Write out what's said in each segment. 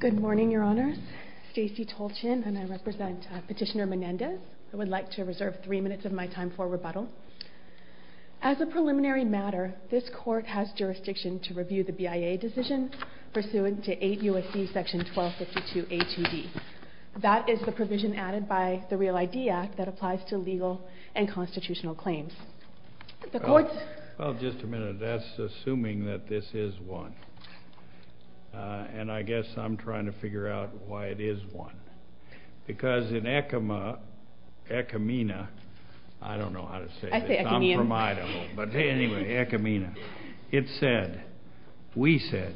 Good morning, Your Honors. Stacey Tolchin, and I represent Petitioner Menendez. I would like to reserve three minutes of my time for rebuttal. As a preliminary matter, this Court has jurisdiction to review the BIA decision pursuant to 8 U.S.C. § 1252a-2b. That is the provision added by the Real ID Act that applies to legal and constitutional claims. The Court's... Well, just a minute. That's assuming that this is one. And I guess I'm trying to figure out why it is one. Because in ECOMA, ECOMENA, I don't know how to say this. I'm from Idaho, but anyway, ECOMENA. It said, we said,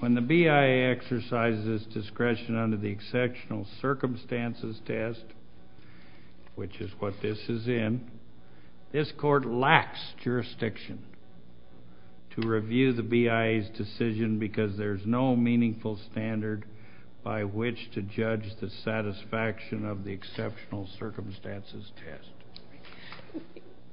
when the BIA exercises discretion under the Exceptional Circumstances Test, which is what this is in, this Court lacks jurisdiction to review the BIA's decision because there's no meaningful standard by which to judge the satisfaction of the Exceptional Circumstances Test.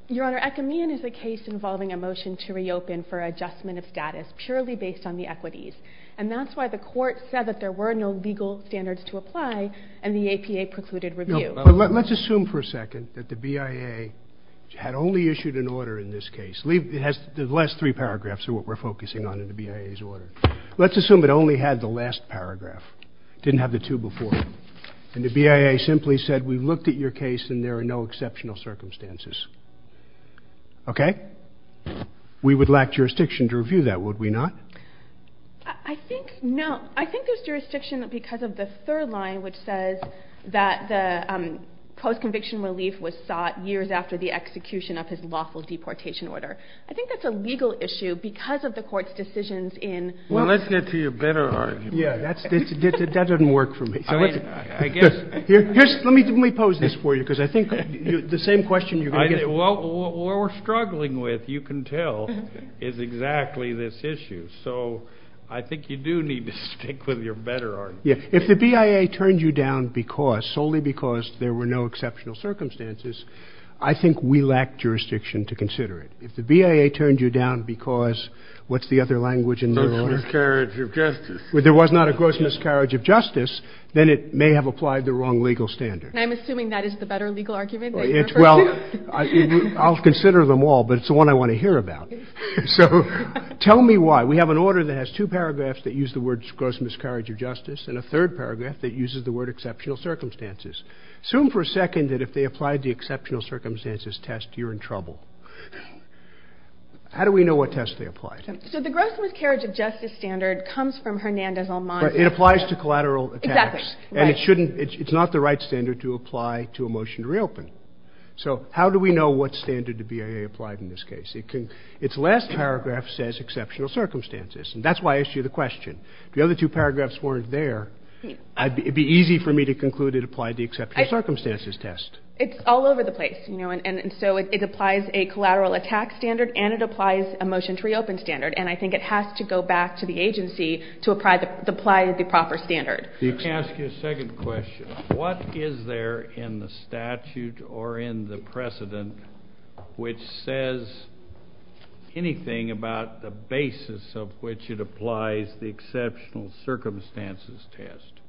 Your Honor, ECOMENA is a case involving a motion to reopen for adjustment of status purely based on the equities. And that's why the Court said that there were no legal standards to apply, and the APA precluded review. But let's assume for a second that the BIA had only issued an order in this case. The last three paragraphs are what we're focusing on in the BIA's order. Let's assume it only had the last paragraph, didn't have the two before it. And the BIA simply said, we've looked at your case, and there are no exceptional circumstances. Okay? We would lack jurisdiction to review that, would we not? I think no. I think there's jurisdiction because of the third line, which says that the post-conviction relief was sought years after the execution of his lawful deportation order. I think that's a legal issue because of the Court's decisions in – Well, let's get to your better argument. Yeah, that doesn't work for me. I mean, I guess – Let me pose this for you, because I think the same question you're going to get – What we're struggling with, you can tell, is exactly this issue. So I think you do need to stick with your better argument. If the BIA turned you down because – solely because there were no exceptional circumstances – I think we lack jurisdiction to consider it. If the BIA turned you down because – what's the other language in the law? Gross miscarriage of justice. If there was not a gross miscarriage of justice, then it may have applied the wrong legal standards. And I'm assuming that is the better legal argument that you're referring to? Well, I'll consider them all, but it's the one I want to hear about. So tell me why. We have an order that has two paragraphs that use the words gross miscarriage of justice, and a third paragraph that uses the word exceptional circumstances. Assume for a second that if they applied the exceptional circumstances test, you're in trouble. How do we know what test they applied? So the gross miscarriage of justice standard comes from Hernandez-Almanza. It applies to collateral attacks. Exactly. And it shouldn't – it's not the right standard to apply to a motion to reopen. So how do we know what standard the BIA applied in this case? Its last paragraph says exceptional circumstances, and that's why I asked you the question. If the other two paragraphs weren't there, it would be easy for me to conclude it applied the exceptional circumstances test. It's all over the place, you know, and so it applies a collateral attack standard, and it applies a motion to reopen standard, and I think it has to go back to the agency to apply the proper standard. Let me ask you a second question. What is there in the statute or in the precedent which says anything about the basis of which it applies the exceptional circumstances test,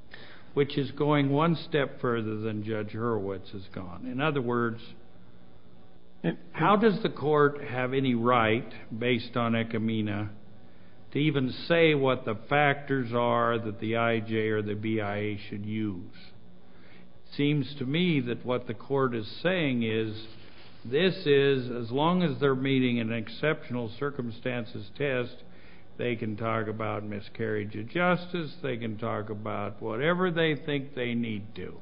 which is going one step further than Judge Hurwitz has gone? In other words, how does the court have any right, based on ecumena, to even say what the factors are that the IJ or the BIA should use? It seems to me that what the court is saying is this is, as long as they're meeting an exceptional circumstances test, they can talk about miscarriage of justice, they can talk about whatever they think they need to.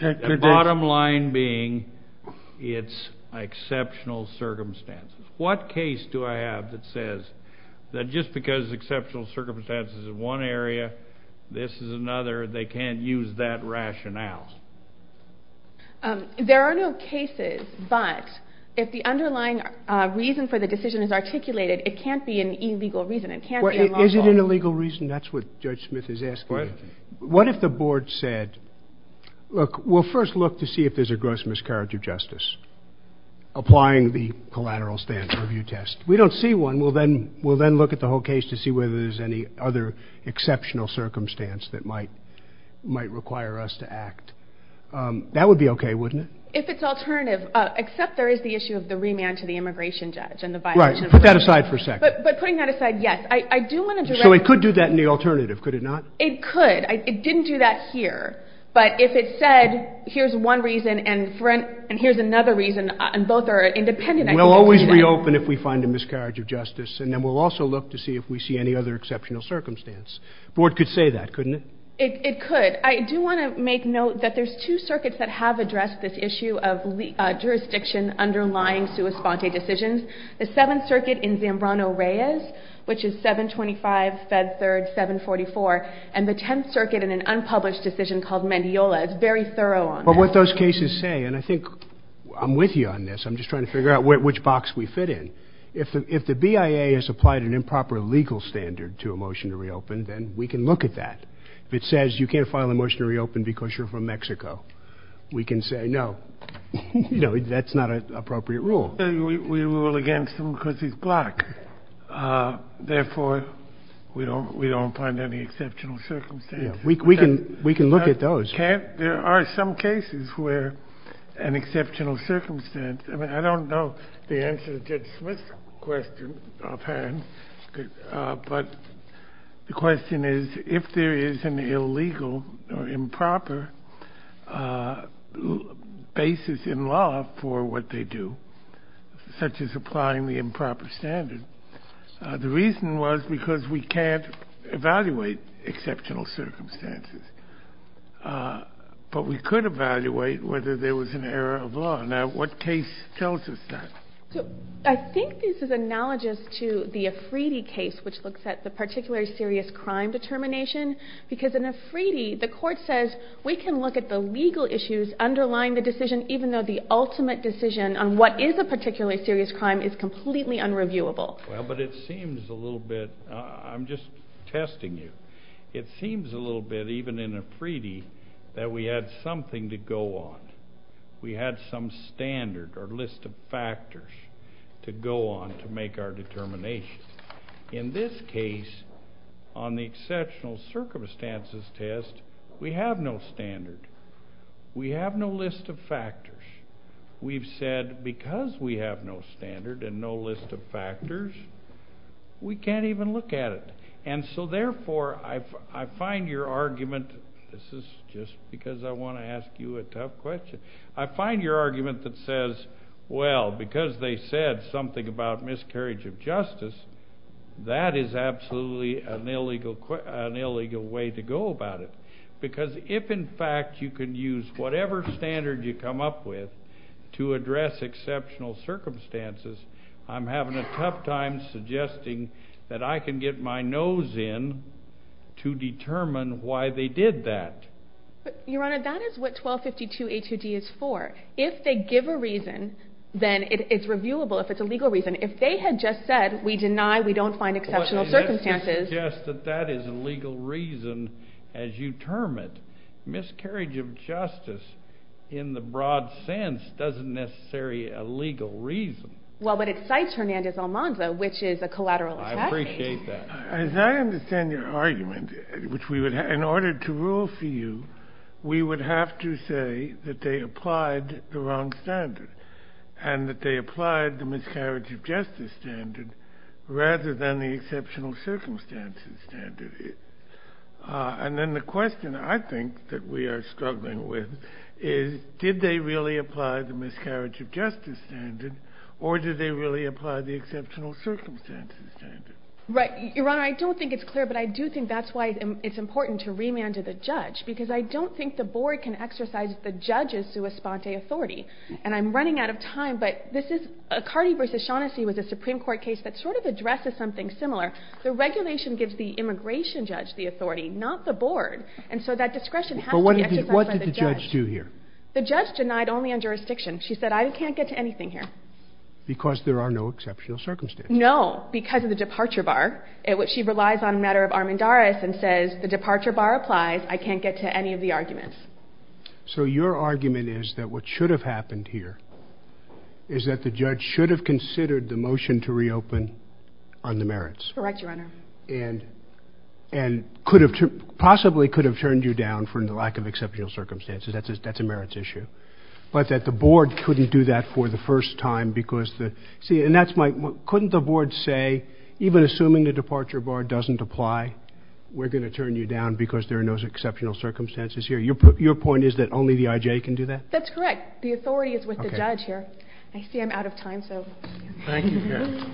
The bottom line being it's exceptional circumstances. What case do I have that says that just because exceptional circumstances is one area, this is another, they can't use that rationale? There are no cases, but if the underlying reason for the decision is articulated, it can't be an illegal reason. Is it an illegal reason? That's what Judge Smith is asking. What if the board said, look, we'll first look to see if there's a gross miscarriage of justice, applying the collateral stance review test. We don't see one. We'll then look at the whole case to see whether there's any other exceptional circumstance that might require us to act. That would be okay, wouldn't it? If it's alternative, except there is the issue of the remand to the immigration judge. Right. Put that aside for a second. But putting that aside, yes. I do want to direct... So it could do that in the alternative, could it not? It could. It didn't do that here. But if it said, here's one reason, and here's another reason, and both are independent... We'll always reopen if we find a miscarriage of justice, and then we'll also look to see if we see any other exceptional circumstance. The board could say that, couldn't it? It could. I do want to make note that there's two circuits that have addressed this issue of jurisdiction underlying sua sponte decisions. The Seventh Circuit in Zambrano-Reyes, which is 725 Fed 3rd 744, and the Tenth Circuit in an unpublished decision called Mendiola. It's very thorough on that. But what those cases say, and I think I'm with you on this. I'm just trying to figure out which box we fit in. If the BIA has applied an improper legal standard to a motion to reopen, then we can look at that. If it says you can't file a motion to reopen because you're from Mexico, we can say, no, that's not an appropriate rule. We rule against him because he's black. Therefore, we don't find any exceptional circumstances. We can look at those. There are some cases where an exceptional circumstance... I don't know the answer to Judge Smith's question offhand. But the question is, if there is an illegal or improper basis in law for what they do, such as applying the improper standard. The reason was because we can't evaluate exceptional circumstances. But we could evaluate whether there was an error of law. Now, what case tells us that? I think this is analogous to the Afridi case, which looks at the particularly serious crime determination. Because in Afridi, the court says we can look at the legal issues underlying the decision, even though the ultimate decision on what is a particularly serious crime is completely unreviewable. Well, but it seems a little bit... I'm just testing you. It seems a little bit, even in Afridi, that we had something to go on. We had some standard or list of factors to go on to make our determination. In this case, on the exceptional circumstances test, we have no standard. We have no list of factors. We've said because we have no standard and no list of factors, we can't even look at it. And so, therefore, I find your argument... This is just because I want to ask you a tough question. I find your argument that says, well, because they said something about miscarriage of justice, that is absolutely an illegal way to go about it. Because if, in fact, you can use whatever standard you come up with to address exceptional circumstances, I'm having a tough time suggesting that I can get my nose in to determine why they did that. Your Honor, that is what 1252A2D is for. If they give a reason, then it's reviewable if it's a legal reason. If they had just said, we deny, we don't find exceptional circumstances... Well, let me just suggest that that is a legal reason as you term it. Miscarriage of justice, in the broad sense, doesn't necessarily a legal reason. Well, but it cites Hernandez-Almanza, which is a collateral attack. I appreciate that. As I understand your argument, in order to rule for you, we would have to say that they applied the wrong standard and that they applied the miscarriage of justice standard rather than the exceptional circumstances standard. And then the question, I think, that we are struggling with is did they really apply the miscarriage of justice standard or did they really apply the exceptional circumstances standard? Right. Your Honor, I don't think it's clear, but I do think that's why it's important to remand to the judge because I don't think the board can exercise the judge's sua sponte authority. And I'm running out of time, but this is... Cardi v. Shaughnessy was a Supreme Court case that sort of addresses something similar. The regulation gives the immigration judge the authority, not the board. And so that discretion has to be exercised by the judge. But what did the judge do here? The judge denied only on jurisdiction. She said, I can't get to anything here. Because there are no exceptional circumstances. No, because of the departure bar. She relies on a matter of Armendariz and says the departure bar applies. I can't get to any of the arguments. So your argument is that what should have happened here is that the judge should have considered the motion to reopen on the merits. Correct, Your Honor. And possibly could have turned you down for the lack of exceptional circumstances. That's a merits issue. But that the board couldn't do that for the first time because the... See, and that's my... Couldn't the board say, even assuming the departure bar doesn't apply, we're going to turn you down because there are no exceptional circumstances here? Your point is that only the I.J. can do that? That's correct. The authority is with the judge here. I see I'm out of time, so... Thank you, Your Honor.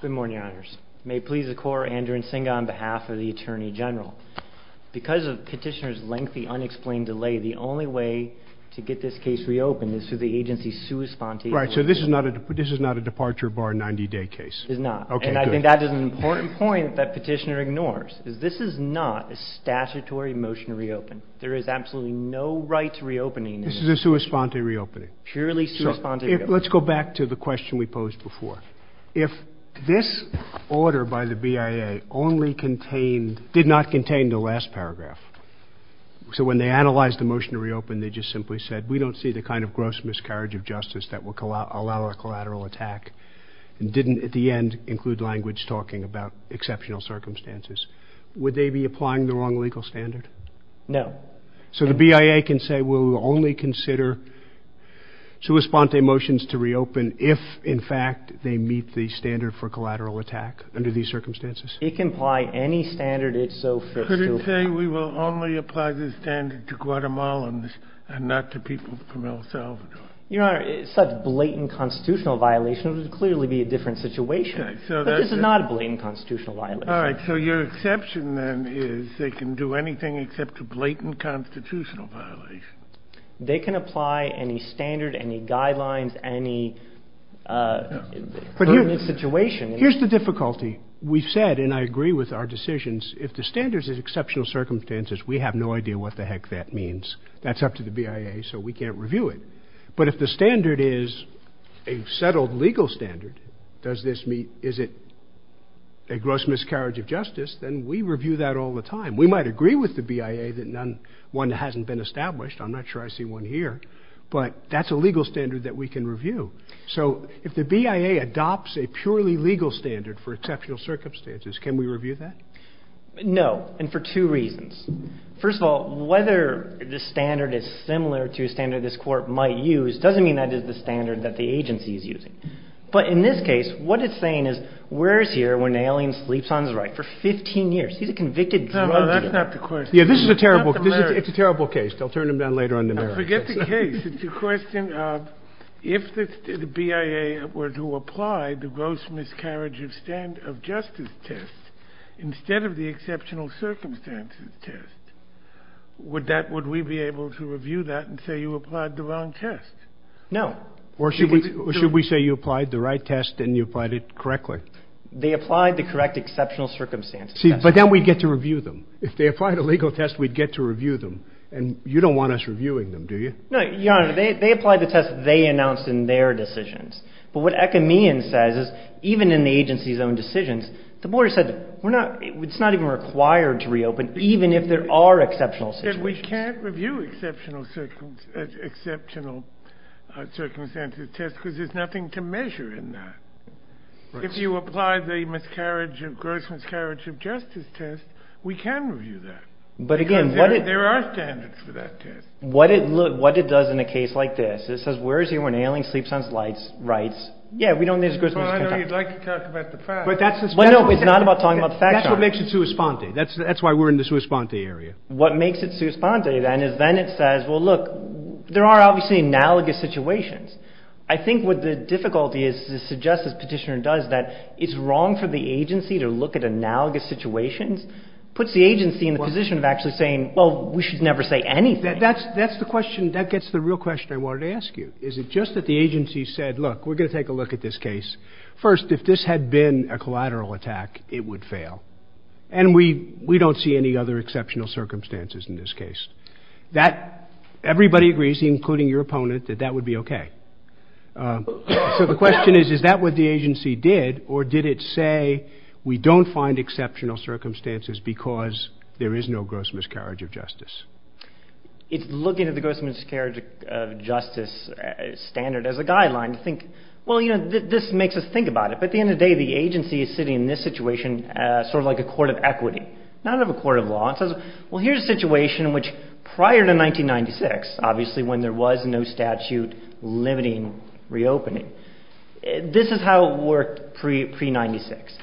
Good morning, Your Honors. May it please the Court, Andrew Nsinga on behalf of the Attorney General. Because of Petitioner's lengthy, unexplained delay, the only way to get this case reopened is through the agency's sui sponte... Right, so this is not a departure bar 90-day case. It's not. Okay, good. And I think that is an important point that Petitioner ignores, is this is not a statutory motion to reopen. There is absolutely no right to reopening. This is a sui sponte reopening. Purely sui sponte reopening. Let's go back to the question we posed before. If this order by the BIA only contained... Did not contain the last paragraph. So when they analyzed the motion to reopen, they just simply said, we don't see the kind of gross miscarriage of justice that will allow a collateral attack. And didn't, at the end, include language talking about exceptional circumstances. Would they be applying the wrong legal standard? No. So the BIA can say we'll only consider sui sponte motions to reopen if, in fact, they meet the standard for collateral attack under these circumstances? It can apply any standard it so fits. Could it say we will only apply the standard to Guatemalans and not to people from El Salvador? Your Honor, such blatant constitutional violations would clearly be a different situation. But this is not a blatant constitutional violation. All right. So your exception, then, is they can do anything except a blatant constitutional violation. They can apply any standard, any guidelines, any permanent situation. Here's the difficulty. We've said, and I agree with our decisions, if the standard is exceptional circumstances, we have no idea what the heck that means. That's up to the BIA, so we can't review it. But if the standard is a settled legal standard, is it a gross miscarriage of justice, then we review that all the time. We might agree with the BIA that one hasn't been established. I'm not sure I see one here. But that's a legal standard that we can review. So if the BIA adopts a purely legal standard for exceptional circumstances, can we review that? No, and for two reasons. First of all, whether the standard is similar to a standard this court might use doesn't mean that is the standard that the agency is using. But in this case, what it's saying is where is here when Naelen sleeps on his right for 15 years? He's a convicted drug dealer. No, no, that's not the question. Yeah, this is a terrible case. It's a terrible case. They'll turn him down later on in the marriage. Forget the case. It's a question of if the BIA were to apply the gross miscarriage of justice test instead of the exceptional circumstances test, would we be able to review that and say you applied the wrong test? No. Or should we say you applied the right test and you applied it correctly? They applied the correct exceptional circumstances test. See, but then we'd get to review them. If they applied a legal test, we'd get to review them. And you don't want us reviewing them, do you? No, Your Honor. They applied the test they announced in their decisions. But what Ekamian says is even in the agency's own decisions, the board said it's not even required to reopen even if there are exceptional situations. But we can't review exceptional circumstances test because there's nothing to measure in that. If you apply the gross miscarriage of justice test, we can review that because there are standards for that test. What it does in a case like this, it says where is he when an alien sleeps on slides rights? Yeah, we don't need as gross miscarriage of justice test. But I know you'd like to talk about the fact. But that's what makes it sui sponte. That's why we're in the sui sponte area. What makes it sui sponte then is then it says, well, look, there are obviously analogous situations. I think what the difficulty is to suggest, as Petitioner does, that it's wrong for the agency to look at analogous situations. It puts the agency in the position of actually saying, well, we should never say anything. That gets the real question I wanted to ask you. Is it just that the agency said, look, we're going to take a look at this case. First, if this had been a collateral attack, it would fail. And we don't see any other exceptional circumstances in this case. Everybody agrees, including your opponent, that that would be OK. So the question is, is that what the agency did? Or did it say we don't find exceptional circumstances because there is no gross miscarriage of justice? It's looking at the gross miscarriage of justice standard as a guideline to think, well, you know, this makes us think about it. But at the end of the day, the agency is sitting in this situation sort of like a court of equity, not of a court of law. Well, here's a situation in which prior to 1996, obviously, when there was no statute limiting reopening. This is how it worked pre-96.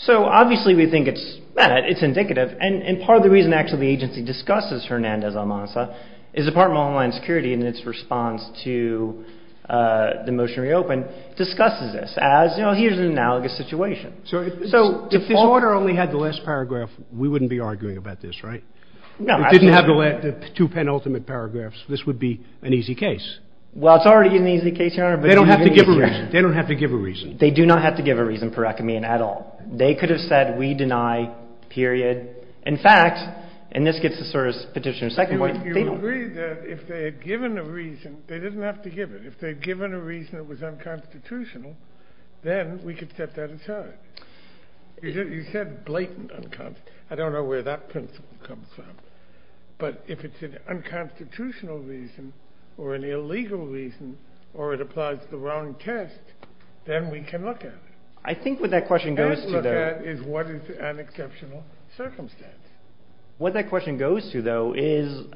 So obviously, we think it's indicative. And part of the reason, actually, the agency discusses Hernandez-Almanza is Department of Homeland Security in its response to the motion to reopen discusses this as, you know, here's an analogous situation. So if this order only had the last paragraph, we wouldn't be arguing about this, right? No. It didn't have the two penultimate paragraphs. This would be an easy case. Well, it's already an easy case, Your Honor. They don't have to give a reason. They don't have to give a reason. They do not have to give a reason per ecumene at all. They could have said we deny, period. In fact, and this gets to sort of Petitioner's second point, they don't. You agree that if they had given a reason, they didn't have to give it. If they had given a reason that was unconstitutional, then we could set that aside. You said blatant unconstitutional. I don't know where that principle comes from. But if it's an unconstitutional reason or an illegal reason or it applies to the wrong test, then we can look at it. I think what that question goes to, though. And look at is what is an exceptional circumstance. What that question goes to, though, is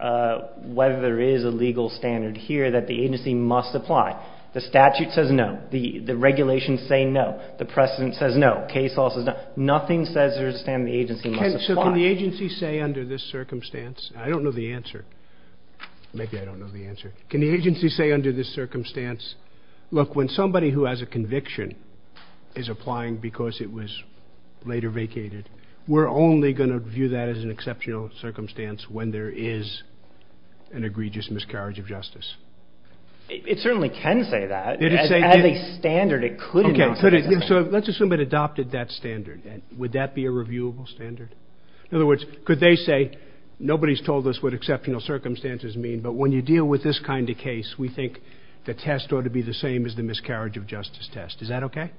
whether there is a legal standard here that the agency must apply. The statute says no. The regulations say no. The precedent says no. Nothing says there is a standard the agency must apply. So can the agency say under this circumstance? I don't know the answer. Maybe I don't know the answer. Can the agency say under this circumstance, look, when somebody who has a conviction is applying because it was later vacated, we're only going to view that as an exceptional circumstance when there is an egregious miscarriage of justice? It certainly can say that. As a standard, it could. So let's assume it adopted that standard. Would that be a reviewable standard? In other words, could they say, nobody's told us what exceptional circumstances mean, but when you deal with this kind of case, we think the test ought to be the same as the miscarriage of justice test. Is that okay?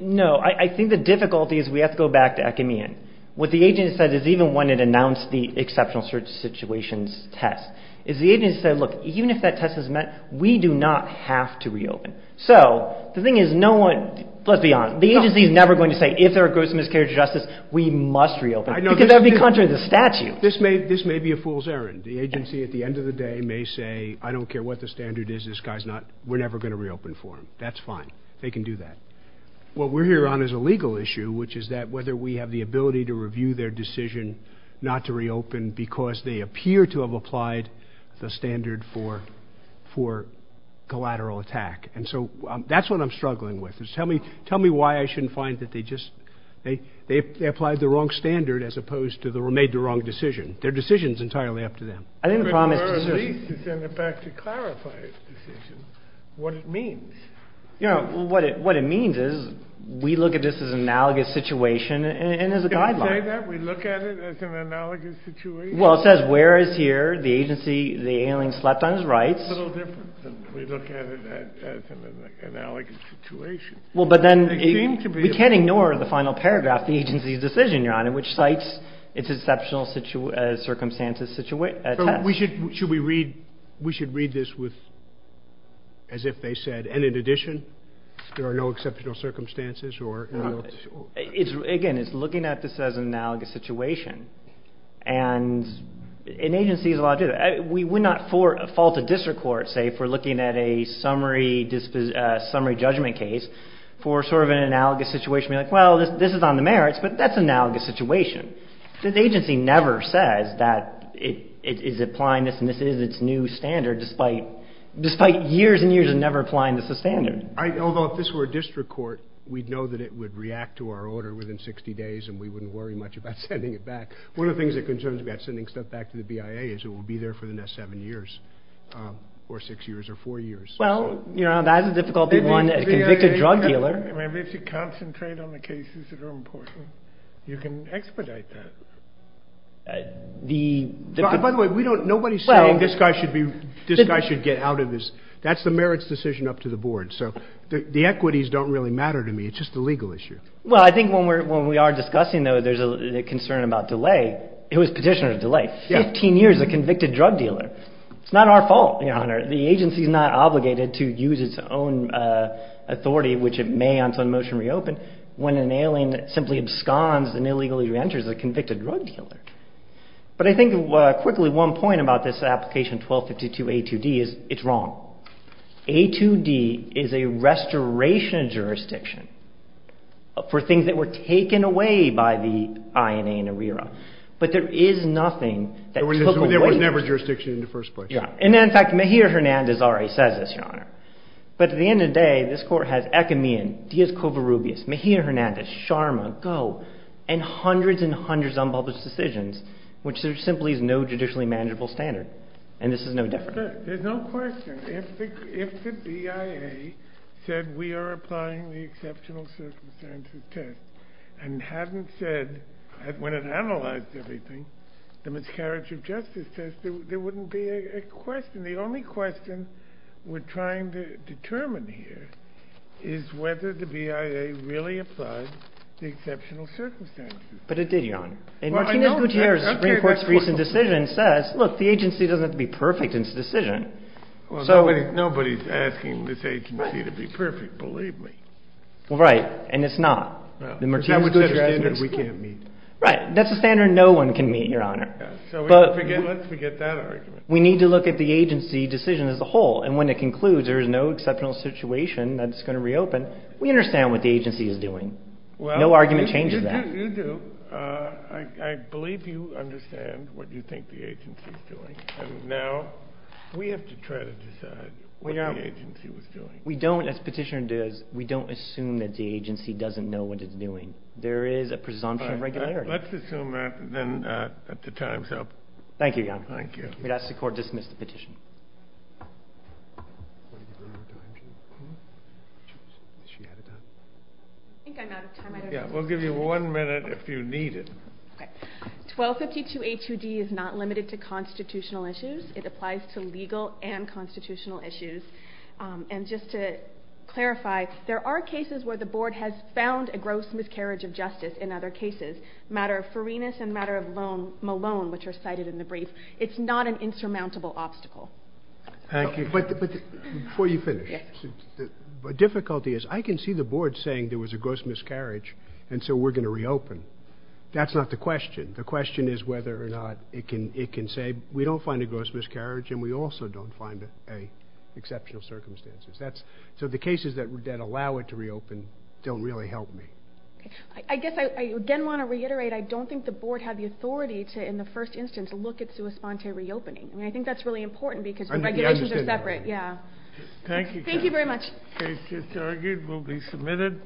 No. I think the difficulty is we have to go back to Acmean. What the agent said is even when it announced the exceptional situations test is the agent said, look, even if that test is met, we do not have to reopen. So the thing is no one, let's be honest, the agency is never going to say if there are gross miscarriage of justice, we must reopen because that would be contrary to the statute. This may be a fool's errand. The agency at the end of the day may say, I don't care what the standard is. This guy's not, we're never going to reopen for him. That's fine. They can do that. What we're here on is a legal issue, which is that whether we have the ability to review their decision not to reopen because they appear to have applied the standard for collateral attack. And so that's what I'm struggling with. Tell me why I shouldn't find that they just, they applied the wrong standard as opposed to made the wrong decision. Their decision is entirely up to them. I didn't promise to say this. But you were at least to send it back to clarify the decision, what it means. What it means is we look at this as an analogous situation and as a guideline. We look at it as an analogous situation. Well, it says where is here, the agency, the alien slept on his rights. We look at it as an analogous situation. Well, but then we can't ignore the final paragraph, the agency's decision, Your Honor, which cites its exceptional circumstances. So we should, should we read, we should read this with, as if they said, and in addition, there are no exceptional circumstances or. Again, it's looking at this as an analogous situation. And an agency is allowed to, we would not fall to district court, say, for looking at a summary judgment case for sort of an analogous situation. We're like, well, this is on the merits, but that's analogous situation. The agency never says that it is applying this and this is its new standard, despite years and years of never applying this as standard. Although if this were a district court, we'd know that it would react to our order within 60 days and we wouldn't worry much about sending it back. One of the things that concerns me about sending stuff back to the BIA is it will be there for the next seven years or six years or four years. Well, you know, that's a difficult one as a convicted drug dealer. Maybe if you concentrate on the cases that are important, you can expedite that. By the way, nobody's saying this guy should be, this guy should get out of this. That's the merits decision up to the board. So the equities don't really matter to me. It's just a legal issue. Well, I think when we are discussing, though, there's a concern about delay. It was petitioner delay, 15 years a convicted drug dealer. It's not our fault, Your Honor. The agency is not obligated to use its own authority, which it may on its own motion reopen, when an alien simply absconds and illegally reenters a convicted drug dealer. But I think quickly one point about this application 1252A2D is it's wrong. A2D is a restoration jurisdiction for things that were taken away by the INA and ARERA. But there is nothing that took away. There was never jurisdiction in the first place. Yeah. And in fact, Mejia-Hernandez already says this, Your Honor. But at the end of the day, this Court has Ecamian, Diaz-Covarrubias, Mejia-Hernandez, Sharma, Goh, and hundreds and hundreds of unpublished decisions. Which there simply is no judicially manageable standard. And this is no different. There's no question. If the BIA said we are applying the exceptional circumstances test and hadn't said when it analyzed everything, the miscarriage of justice test, there wouldn't be a question. The only question we're trying to determine here is whether the BIA really applied the exceptional circumstances test. But it did, Your Honor. And Martinez-Gutierrez's Supreme Court's recent decision says, look, the agency doesn't have to be perfect in its decision. Nobody is asking this agency to be perfect. Believe me. Right. And it's not. That's the standard we can't meet. Right. That's the standard no one can meet, Your Honor. Let's forget that argument. We need to look at the agency decision as a whole. And when it concludes there is no exceptional situation that's going to reopen, we understand what the agency is doing. No argument changes that. You do. I believe you understand what you think the agency is doing. And now we have to try to decide what the agency was doing. We don't, as petitioner does, we don't assume that the agency doesn't know what it's doing. There is a presumption of regularity. All right. Let's assume that then the time's up. Thank you, Your Honor. Thank you. May I ask the Court to dismiss the petition? I think I'm out of time. Yeah. We'll give you one minute if you need it. Okay. 1252HUD is not limited to constitutional issues. It applies to legal and constitutional issues. And just to clarify, there are cases where the Board has found a gross miscarriage of justice in other cases, matter of Farinas and matter of Malone, which are cited in the brief. It's not an insurmountable obstacle. Thank you. But before you finish, the difficulty is I can see the Board saying there was a gross miscarriage and so we're going to reopen. That's not the question. The question is whether or not it can say we don't find a gross miscarriage and we also don't find exceptional circumstances. So the cases that allow it to reopen don't really help me. I guess I, again, want to reiterate, I don't think the Board had the authority to, in the first instance, look at sui sponte reopening. I mean, I think that's really important because the regulations are separate. Yeah. Thank you. Thank you very much. The case is argued and will be submitted.